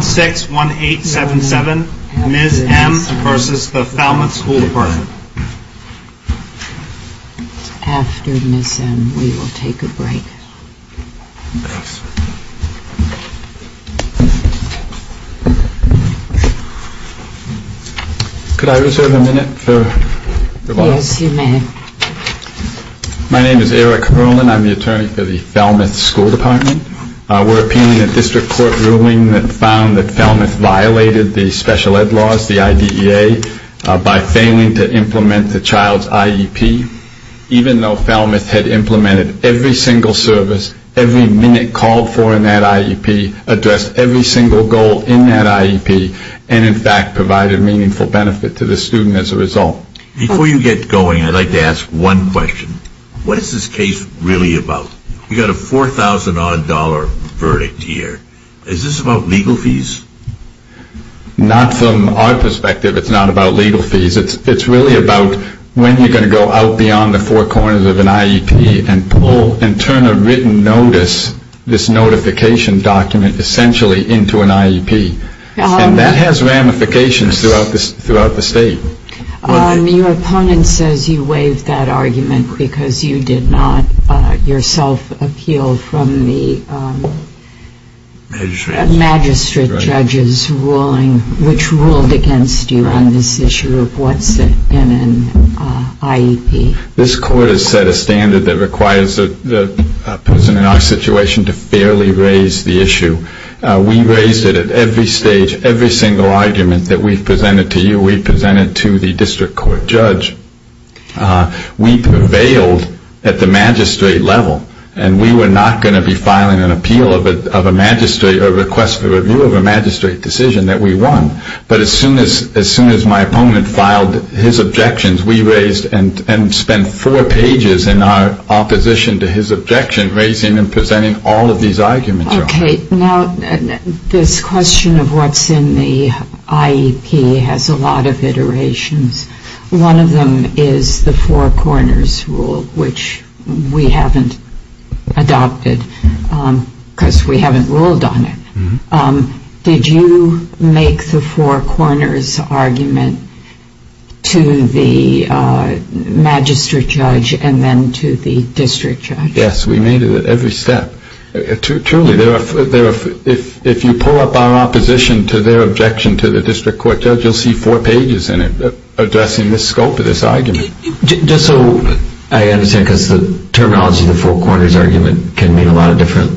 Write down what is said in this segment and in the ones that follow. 61877 Ms. M v. Falmouth School Department After Ms. M, we will take a break. Could I reserve a minute for the boss? Yes, you may. My name is Eric Erland. I'm the attorney for the Falmouth School Department. We're appealing a district court ruling that found that Falmouth violated the special ed laws, the IDEA, by failing to implement the child's IEP, even though Falmouth had implemented every single service, every minute called for in that IEP, addressed every single goal in that IEP, and in fact provided meaningful benefit to the student as a result. Before you get going, I'd like to ask one question. What is this case really about? You've got a $4,000-odd verdict here. Is this about legal fees? Not from our perspective. It's not about legal fees. It's really about when you're going to go out beyond the four corners of an IEP and turn a written notice, this notification document essentially, into an IEP. And that has ramifications throughout the state. Your opponent says you waived that argument because you did not yourself appeal from the magistrate judges which ruled against you on this issue of what's in an IEP. This court has set a standard that requires the person in our situation to fairly raise the issue. We raised it at every stage, every single argument that we've presented to you. We presented to the district court judge. We prevailed at the magistrate level, and we were not going to be filing an appeal of a magistrate or request for review of a magistrate decision that we won. But as soon as my opponent filed his objections, we raised and spent four pages in our opposition to his objection, raising and presenting all of these arguments. Okay. Now, this question of what's in the IEP has a lot of iterations. One of them is the four corners rule, which we haven't adopted because we haven't ruled on it. Did you make the four corners argument to the magistrate judge and then to the district judge? Yes, we made it at every step. Truly, if you pull up our opposition to their objection to the district court judge, you'll see four pages in it addressing the scope of this argument. Just so I understand, because the terminology of the four corners argument can mean a lot of different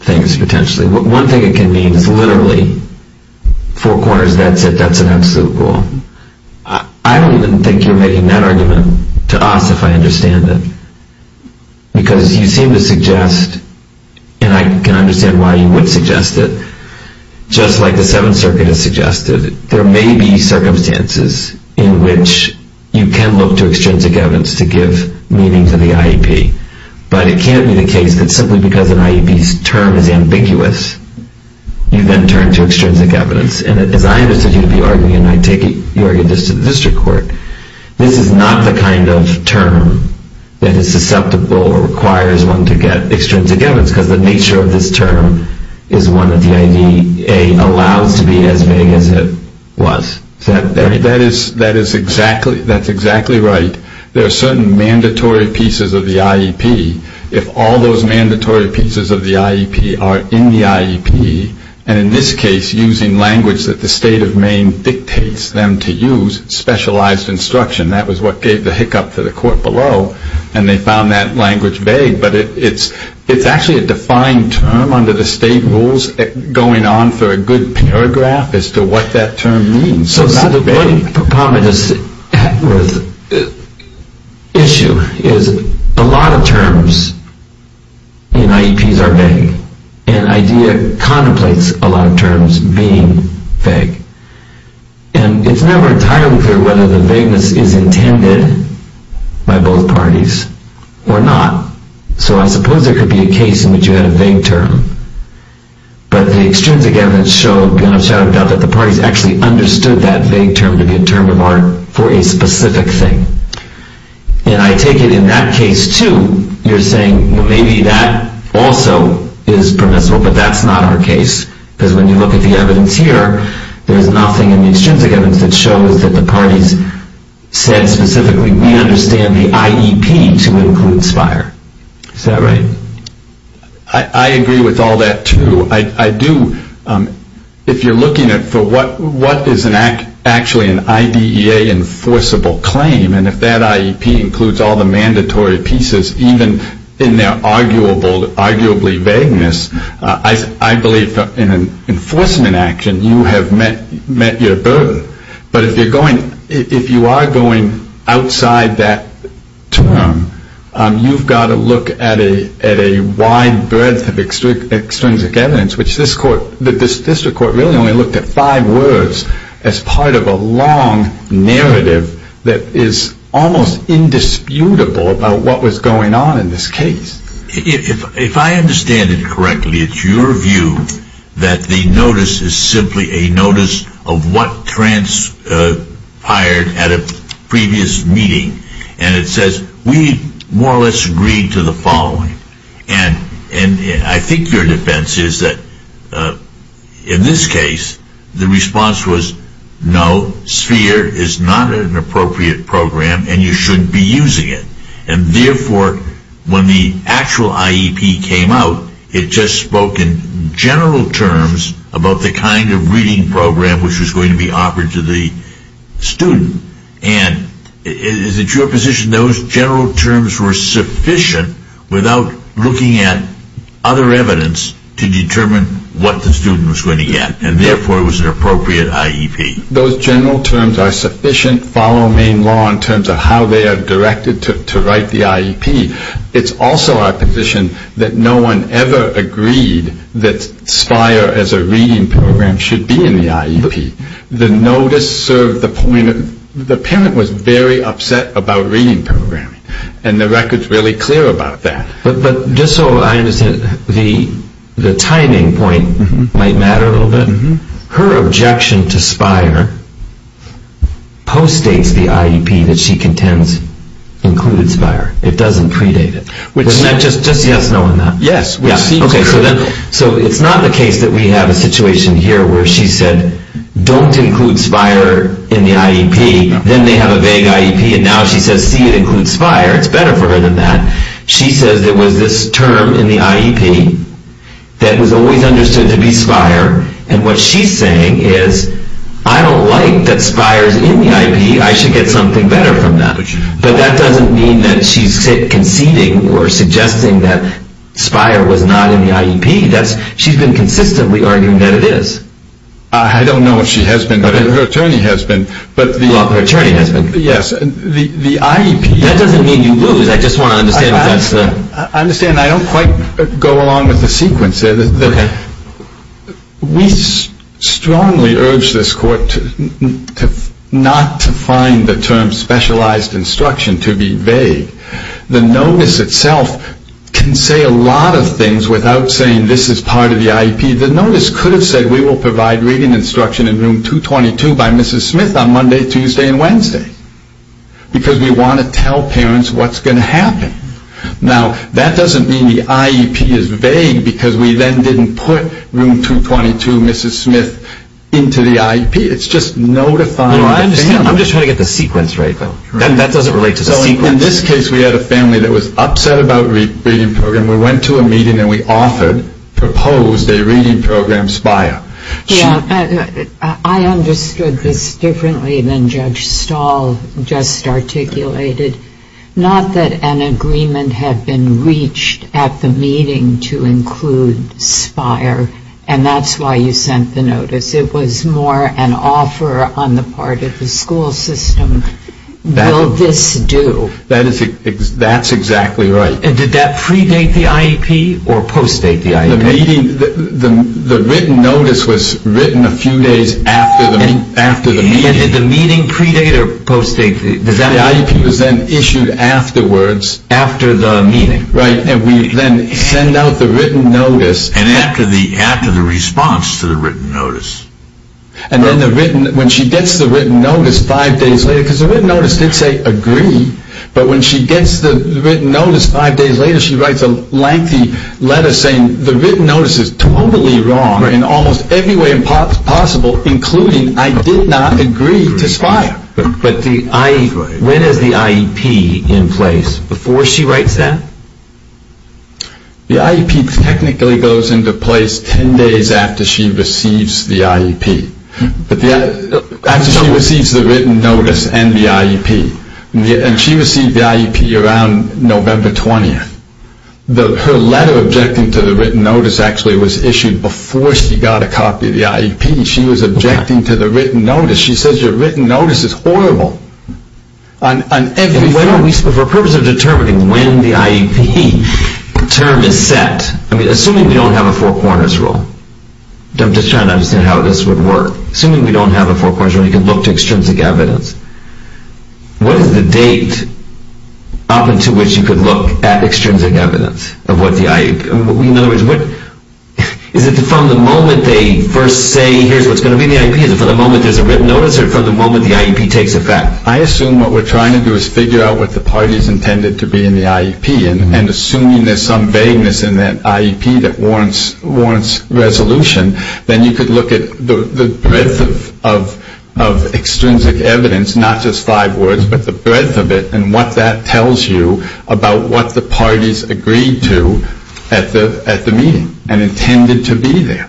things potentially. One thing it can mean is literally four corners, that's it, that's an absolute rule. I don't even think you're making that argument to us, if I understand it, because you seem to suggest, and I can understand why you would suggest it, just like the Seventh Circuit has suggested, there may be circumstances in which you can look to extrinsic evidence to give meaning to the IEP. But it can't be the case that simply because an IEP's term is ambiguous, you then turn to extrinsic evidence. And as I understood you to be arguing, and I take it you argued this to the district court, this is not the kind of term that is susceptible or requires one to get extrinsic evidence, because the nature of this term is one that the IDEA allows to be as vague as it was. That is exactly right. There are certain mandatory pieces of the IEP. If all those mandatory pieces of the IEP are in the IEP, and in this case using language that the state of Maine dictates them to use, specialized instruction, that was what gave the hiccup to the court below, and they found that language vague. But it's actually a defined term under the state rules, going on for a good paragraph as to what that term means. So the problem with this issue is a lot of terms in IEPs are vague. And IDEA contemplates a lot of terms being vague. And it's never entirely clear whether the vagueness is intended by both parties or not. So I suppose there could be a case in which you had a vague term. But the extrinsic evidence showed, beyond a shadow of a doubt, that the parties actually understood that vague term to be a term of art for a specific thing. And I take it in that case, too, you're saying maybe that also is permissible. But that's not our case. Because when you look at the evidence here, there's nothing in the extrinsic evidence that shows that the parties said specifically, we understand the IEP to include SPIRE. Is that right? I agree with all that, too. If you're looking for what is actually an IDEA enforceable claim, and if that IEP includes all the mandatory pieces, even in their arguably vagueness, I believe in an enforcement action you have met your burden. But if you are going outside that term, you've got to look at a wide breadth of extrinsic evidence, which this district court really only looked at five words as part of a long narrative that is almost indisputable about what was going on in this case. If I understand it correctly, it's your view that the notice is simply a notice of what transpired at a previous meeting. And it says, we more or less agreed to the following. And I think your defense is that in this case, the response was, no, SPIRE is not an appropriate program and you shouldn't be using it. And therefore, when the actual IEP came out, it just spoke in general terms about the kind of reading program which was going to be offered to the student. And is it your position those general terms were sufficient without looking at other evidence to determine what the student was going to get, and therefore it was an appropriate IEP? Those general terms are sufficient following law in terms of how they are directed to write the IEP. It's also our position that no one ever agreed that SPIRE as a reading program should be in the IEP. The notice served the point that the parent was very upset about reading programming. And the record's really clear about that. But just so I understand, the timing point might matter a little bit. Her objection to SPIRE postdates the IEP that she contends included SPIRE. It doesn't predate it. Just yes, no, and that. Yes. So it's not the case that we have a situation here where she said, don't include SPIRE in the IEP. Then they have a vague IEP. And now she says, see, it includes SPIRE. It's better for her than that. She says there was this term in the IEP that was always understood to be SPIRE. And what she's saying is, I don't like that SPIRE's in the IEP. I should get something better from that. But that doesn't mean that she's conceding or suggesting that SPIRE was not in the IEP. She's been consistently arguing that it is. I don't know if she has been, but her attorney has been. Her attorney has been. Yes. The IEP. That doesn't mean you lose. I just want to understand if that's the. I understand. I don't quite go along with the sequence there. We strongly urge this court not to find the term specialized instruction to be vague. The notice itself can say a lot of things without saying this is part of the IEP. The notice could have said we will provide reading instruction in room 222 by Mrs. Smith on Monday, Tuesday, and Wednesday because we want to tell parents what's going to happen. Now, that doesn't mean the IEP is vague because we then didn't put room 222 Mrs. Smith into the IEP. It's just notifying the family. No, I understand. I'm just trying to get the sequence right. That doesn't relate to the sequence. So in this case, we had a family that was upset about the reading program. We went to a meeting and we offered, proposed a reading program SPIRE. I understood this differently than Judge Stahl just articulated. Not that an agreement had been reached at the meeting to include SPIRE, and that's why you sent the notice. It was more an offer on the part of the school system. Will this do? That's exactly right. And did that predate the IEP or postdate the IEP? The written notice was written a few days after the meeting. And did the meeting predate or postdate? The IEP was then issued afterwards. After the meeting. Right, and we then send out the written notice. And after the response to the written notice. And then when she gets the written notice five days later, because the written notice did say agree, but when she gets the written notice five days later, she writes a lengthy letter saying the written notice is totally wrong in almost every way possible, including I did not agree to SPIRE. But when is the IEP in place? Before she writes that? The IEP technically goes into place ten days after she receives the IEP. After she receives the written notice and the IEP. And she received the IEP around November 20th. Her letter objecting to the written notice actually was issued before she got a copy of the IEP. She was objecting to the written notice. She says your written notice is horrible. For the purpose of determining when the IEP term is set, assuming we don't have a four corners rule. I'm just trying to understand how this would work. Assuming we don't have a four corners rule, you can look to extrinsic evidence. What is the date up until which you could look at extrinsic evidence of what the IEP? In other words, is it from the moment they first say here's what's going to be in the IEP? Is it from the moment there's a written notice or from the moment the IEP takes effect? I assume what we're trying to do is figure out what the parties intended to be in the IEP. And assuming there's some vagueness in that IEP that warrants resolution, then you could look at the breadth of extrinsic evidence, not just five words, but the breadth of it and what that tells you about what the parties agreed to at the meeting and intended to be there.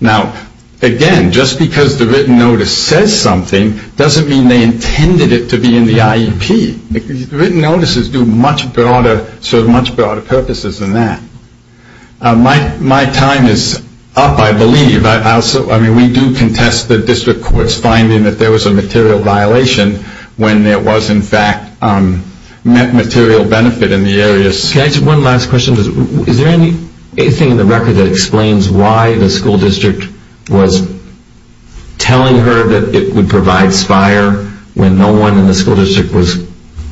Now, again, just because the written notice says something doesn't mean they intended it to be in the IEP. The written notices serve much broader purposes than that. My time is up, I believe. I mean, we do contest the district court's finding that there was a material violation when there was, in fact, material benefit in the areas. Can I ask one last question? Is there anything in the record that explains why the school district was telling her that it would provide SPIRE when no one in the school district was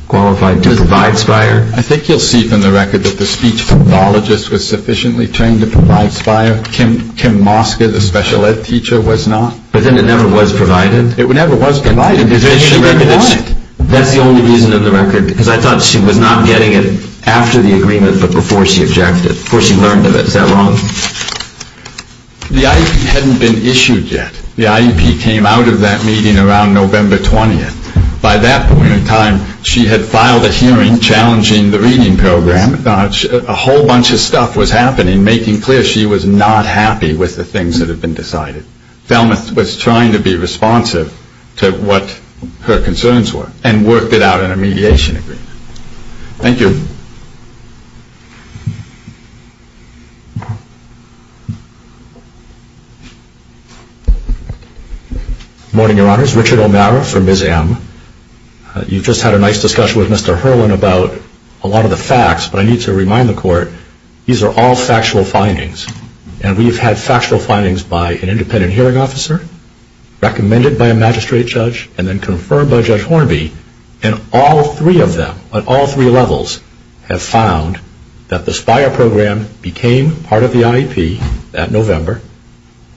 qualified to provide SPIRE? I think you'll see from the record that the speech pathologist was sufficiently trained to provide SPIRE. Kim Mosca, the special ed teacher, was not. But then it never was provided? It never was provided. Is there anything in the record that's the only reason in the record? Because I thought she was not getting it after the agreement but before she objected, before she learned of it. Is that wrong? The IEP hadn't been issued yet. The IEP came out of that meeting around November 20th. By that point in time, she had filed a hearing challenging the reading program. A whole bunch of stuff was happening, making clear she was not happy with the things that had been decided. Thelmuth was trying to be responsive to what her concerns were and worked it out in a mediation agreement. Thank you. Morning, Your Honors. Richard O'Mara for Ms. M. You just had a nice discussion with Mr. Herlin about a lot of the facts, but I need to remind the Court, these are all factual findings. And we've had factual findings by an independent hearing officer, recommended by a magistrate judge, and then confirmed by Judge Hornby, and all three of them, on all three levels, have found that the SPIRE program became part of the IEP at November,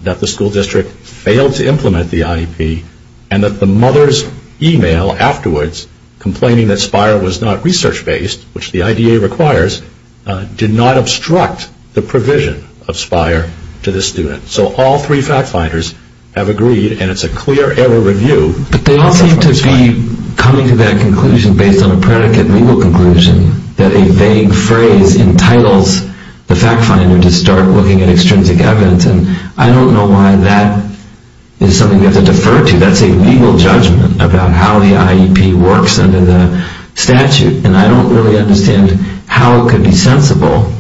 that the school district failed to implement the IEP, and that the mother's email afterwards, complaining that SPIRE was not research-based, which the IDA requires, did not obstruct the provision of SPIRE to the student. So all three fact-finders have agreed, and it's a clear error review. But they all seem to be coming to that conclusion, based on a predicate legal conclusion, that a vague phrase entitles the fact-finder to start looking at extrinsic evidence, and I don't know why that is something we have to defer to. That's a legal judgment about how the IEP works under the statute, and I don't really understand how it could be sensible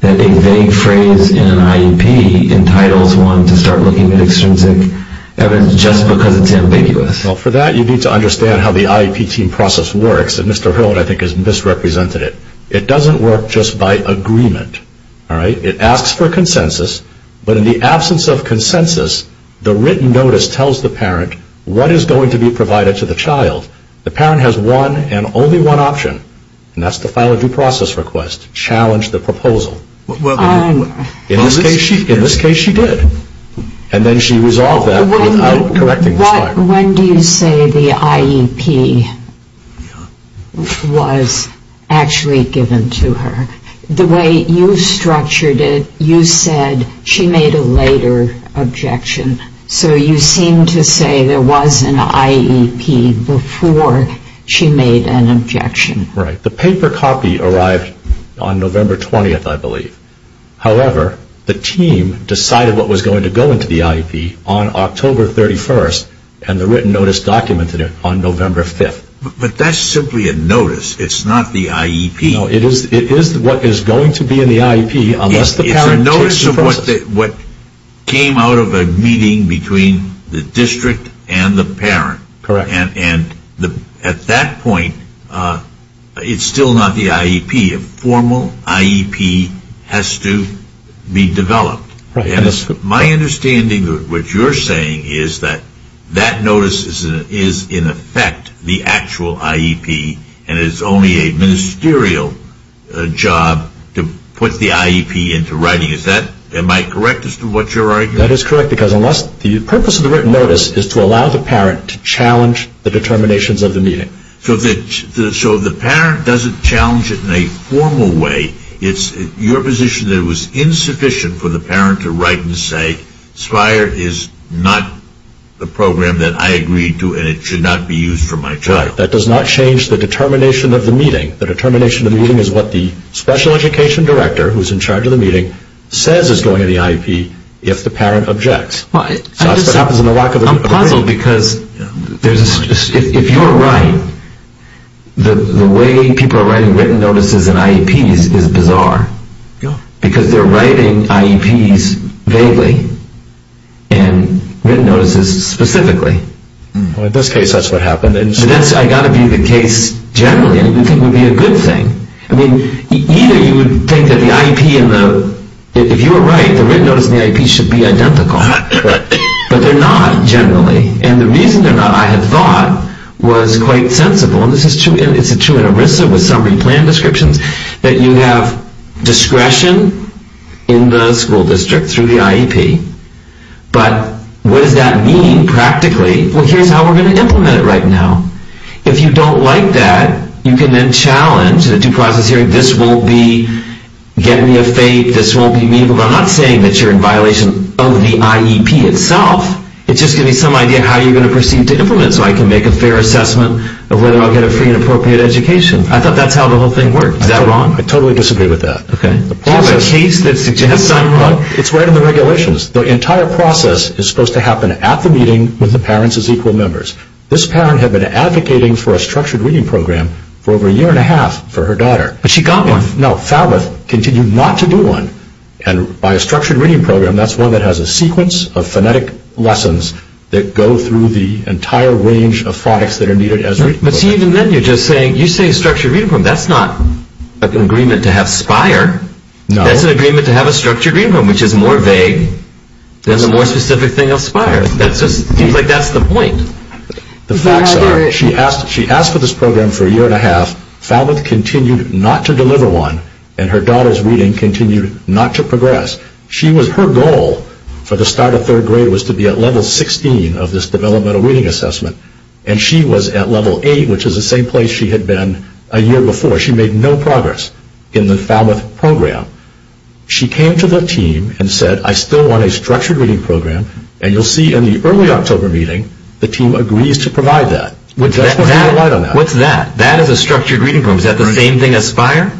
that a vague phrase in an IEP entitles one to start looking at extrinsic evidence just because it's ambiguous. Well, for that, you need to understand how the IEP team process works, and Mr. Hill, I think, has misrepresented it. It doesn't work just by agreement, all right? It asks for consensus, but in the absence of consensus, the written notice tells the parent what is going to be provided to the child. The parent has one and only one option, and that's to file a due process request, challenge the proposal. In this case, she did, and then she resolved that without correcting the child. When do you say the IEP was actually given to her? The way you structured it, you said she made a later objection, so you seem to say there was an IEP before she made an objection. Right. The paper copy arrived on November 20th, I believe. However, the team decided what was going to go into the IEP on October 31st, and the written notice documented it on November 5th. But that's simply a notice. It's not the IEP. No, it is what is going to be in the IEP unless the parent takes the process. It's a notice of what came out of a meeting between the district and the parent. Correct. And at that point, it's still not the IEP. A formal IEP has to be developed. My understanding of what you're saying is that that notice is in effect the actual IEP and it is only a ministerial job to put the IEP into writing. Am I correct as to what you're arguing? That is correct, because the purpose of the written notice is to allow the parent to challenge the determinations of the meeting. So the parent doesn't challenge it in a formal way. It's your position that it was insufficient for the parent to write and say, SPIRE is not the program that I agreed to and it should not be used for my child. Correct. That does not change the determination of the meeting. The determination of the meeting is what the special education director, who's in charge of the meeting, says is going to the IEP if the parent objects. I'm puzzled because if you're right, the way people are writing written notices in IEPs is bizarre. Because they're writing IEPs vaguely and written notices specifically. In this case, that's what happened. That's got to be the case generally. I don't think it would be a good thing. I mean, either you would think that the IEP, if you were right, the written notice in the IEP should be identical. But they're not generally. And the reason they're not, I had thought, was quite sensible. And this is true in ERISA with summary plan descriptions, that you have discretion in the school district through the IEP. But what does that mean practically? Well, here's how we're going to implement it right now. If you don't like that, you can then challenge the due process hearing. This won't be getting me a fate. This won't be meaningful. But I'm not saying that you're in violation of the IEP itself. It's just giving me some idea of how you're going to proceed to implement it so I can make a fair assessment of whether I'll get a free and appropriate education. I thought that's how the whole thing worked. Is that wrong? I totally disagree with that. Okay. It's a case that suggests I'm wrong. It's right in the regulations. The entire process is supposed to happen at the meeting with the parents as equal members. This parent had been advocating for a structured reading program for over a year and a half for her daughter. But she got one. No, Falbeth continued not to do one. And by a structured reading program, that's one that has a sequence of phonetic lessons that go through the entire range of products that are needed as reading programs. But see, even then you're just saying, you say structured reading program. That's not an agreement to have Spire. No. That's an agreement to have a structured reading program, which is more vague than the more specific thing of Spire. It seems like that's the point. The facts are, she asked for this program for a year and a half. Falbeth continued not to deliver one. And her daughter's reading continued not to progress. Her goal for the start of third grade was to be at level 16 of this developmental reading assessment. And she was at level 8, which is the same place she had been a year before. She made no progress in the Falbeth program. She came to the team and said, I still want a structured reading program. And you'll see in the early October meeting, the team agrees to provide that. That's what we relied on. What's that? That is a structured reading program. Is that the same thing as Spire?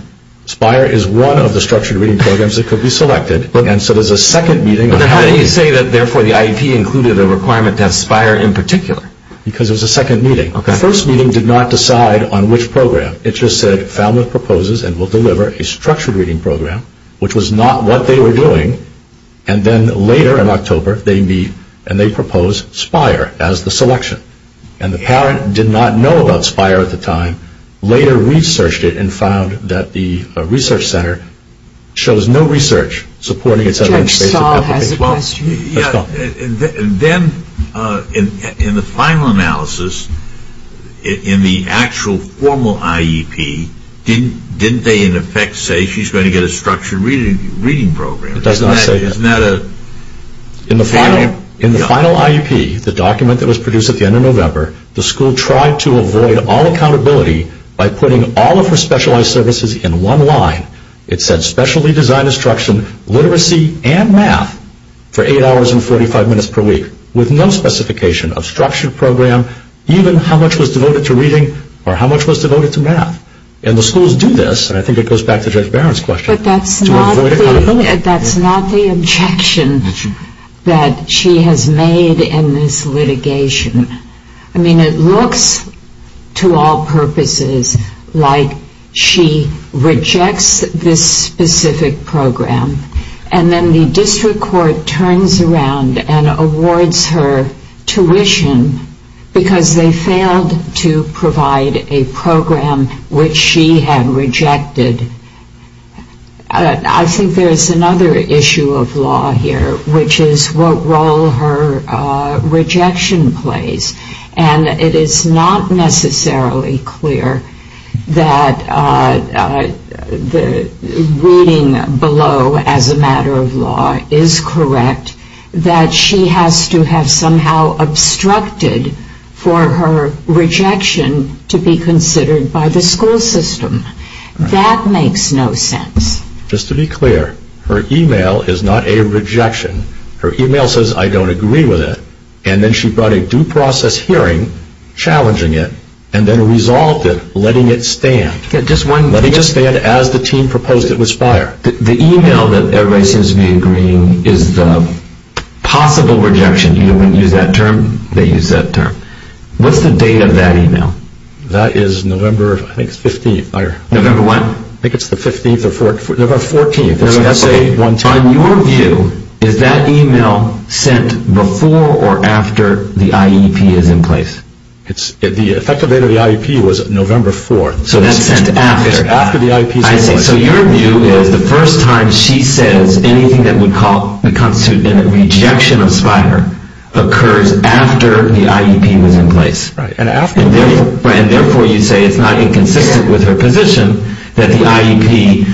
Spire is one of the structured reading programs that could be selected. And so there's a second meeting. But how do you say that, therefore, the IEP included a requirement to have Spire in particular? Because it was a second meeting. The first meeting did not decide on which program. It just said, Falbeth proposes and will deliver a structured reading program, which was not what they were doing. And then later in October they meet and they propose Spire as the selection. And the parent did not know about Spire at the time, later researched it and found that the research center shows no research supporting it. Judge Stahl has a question. Then in the final analysis, in the actual formal IEP, didn't they in effect say she's going to get a structured reading program? It does not say that. In the final IEP, the document that was produced at the end of November, the school tried to avoid all accountability by putting all of her specialized services in one line. It said specially designed instruction, literacy and math for 8 hours and 45 minutes per week with no specification of structured program, even how much was devoted to reading or how much was devoted to math. And the schools do this, and I think it goes back to Judge Barron's question, but that's not the objection that she has made in this litigation. I mean, it looks to all purposes like she rejects this specific program and then the district court turns around and awards her tuition because they failed to provide a program which she had rejected. I think there's another issue of law here, which is what role her rejection plays. And it is not necessarily clear that the reading below as a matter of law is correct, that she has to have somehow obstructed for her rejection to be considered by the school system. That makes no sense. Just to be clear, her email is not a rejection. Her email says I don't agree with it, and then she brought a due process hearing challenging it and then resolved it letting it stand. The email that everybody seems to be agreeing is the possible rejection. You wouldn't use that term. They use that term. What's the date of that email? That is November, I think, 15th. November what? I think it's the 15th or 14th. On your view, is that email sent before or after the IEP is in place? The effective date of the IEP was November 4th. So that's sent after. It's sent after the IEP is in place. I see. So your view is the first time she says anything that would constitute a rejection of SPIRE occurs after the IEP was in place. And therefore you say it's not inconsistent with her position that the IEP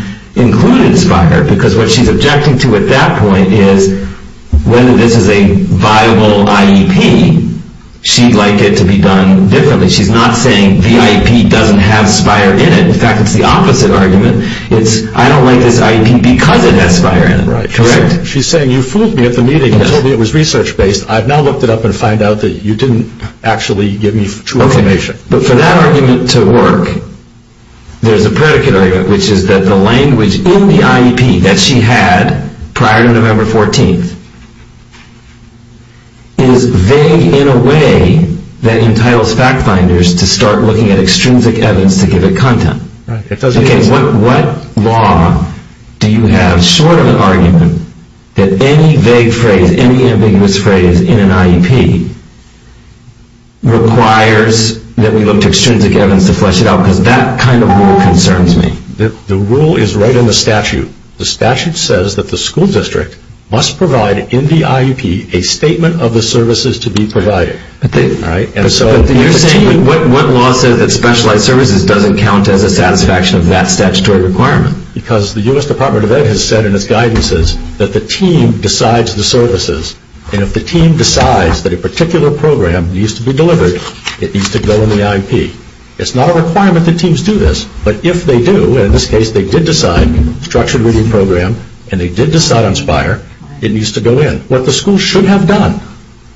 included SPIRE because what she's objecting to at that point is whether this is a viable IEP, she'd like it to be done differently. She's not saying the IEP doesn't have SPIRE in it. In fact, it's the opposite argument. It's I don't like this IEP because it has SPIRE in it, correct? She's saying you fooled me at the meeting and told me it was research-based. I've now looked it up and found out that you didn't actually give me true information. But for that argument to work, there's a predicate argument, which is that the language in the IEP that she had prior to November 14th is vague in a way that entitles fact-finders to start looking at extrinsic evidence to give it content. What law do you have short of an argument that any vague phrase, any ambiguous phrase in an IEP requires that we look to extrinsic evidence to flesh it out because that kind of rule concerns me? The rule is right in the statute. The statute says that the school district must provide in the IEP a statement of the services to be provided. What law says that specialized services doesn't count as a satisfaction of that statutory requirement? Because the U.S. Department of Ed has said in its guidances that the team decides the services. If the team decides that a particular program needs to be delivered, it needs to go in the IEP. It's not a requirement that teams do this. But if they do, and in this case they did decide structured reading program, and they did decide on SPIRE, it needs to go in. What the school should have done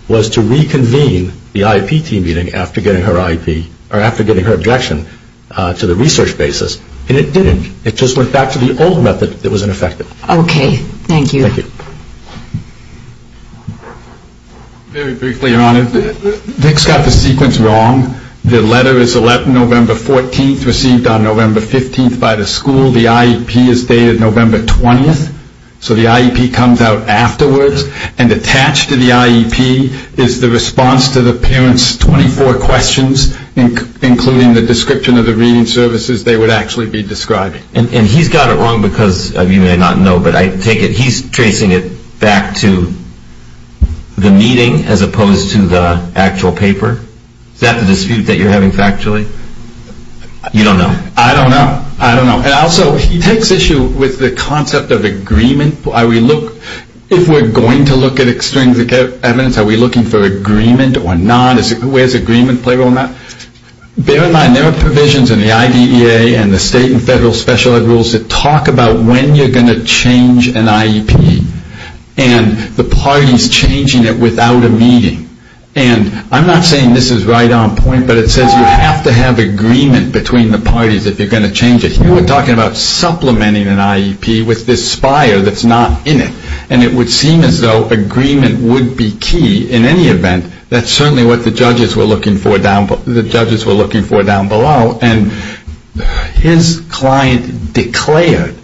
was to reconvene the IEP team meeting after getting her objection to the research basis, and it didn't. It just went back to the old method that was ineffective. Okay, thank you. Thank you. Very briefly, Your Honor, Dick's got the sequence wrong. The letter is November 14th, received on November 15th by the school. The IEP is dated November 20th, so the IEP comes out afterwards. And attached to the IEP is the response to the parents' 24 questions, including the description of the reading services they would actually be describing. And he's got it wrong because you may not know, but I take it he's tracing it back to the meeting as opposed to the actual paper? Is that the dispute that you're having factually? You don't know? I don't know. I don't know. And also, he takes issue with the concept of agreement. If we're going to look at extrinsic evidence, are we looking for agreement or not? Where does agreement play a role in that? Bear in mind, there are provisions in the IDEA and the state and federal special ed rules that talk about when you're going to change an IEP. And the party's changing it without a meeting. And I'm not saying this is right on point, but it says you have to have agreement between the parties if you're going to change it. Here we're talking about supplementing an IEP with this spire that's not in it. And it would seem as though agreement would be key in any event. That's certainly what the judges were looking for down below. And his client declared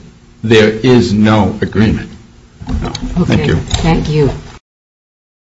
there is no agreement. Thank you. Thank you.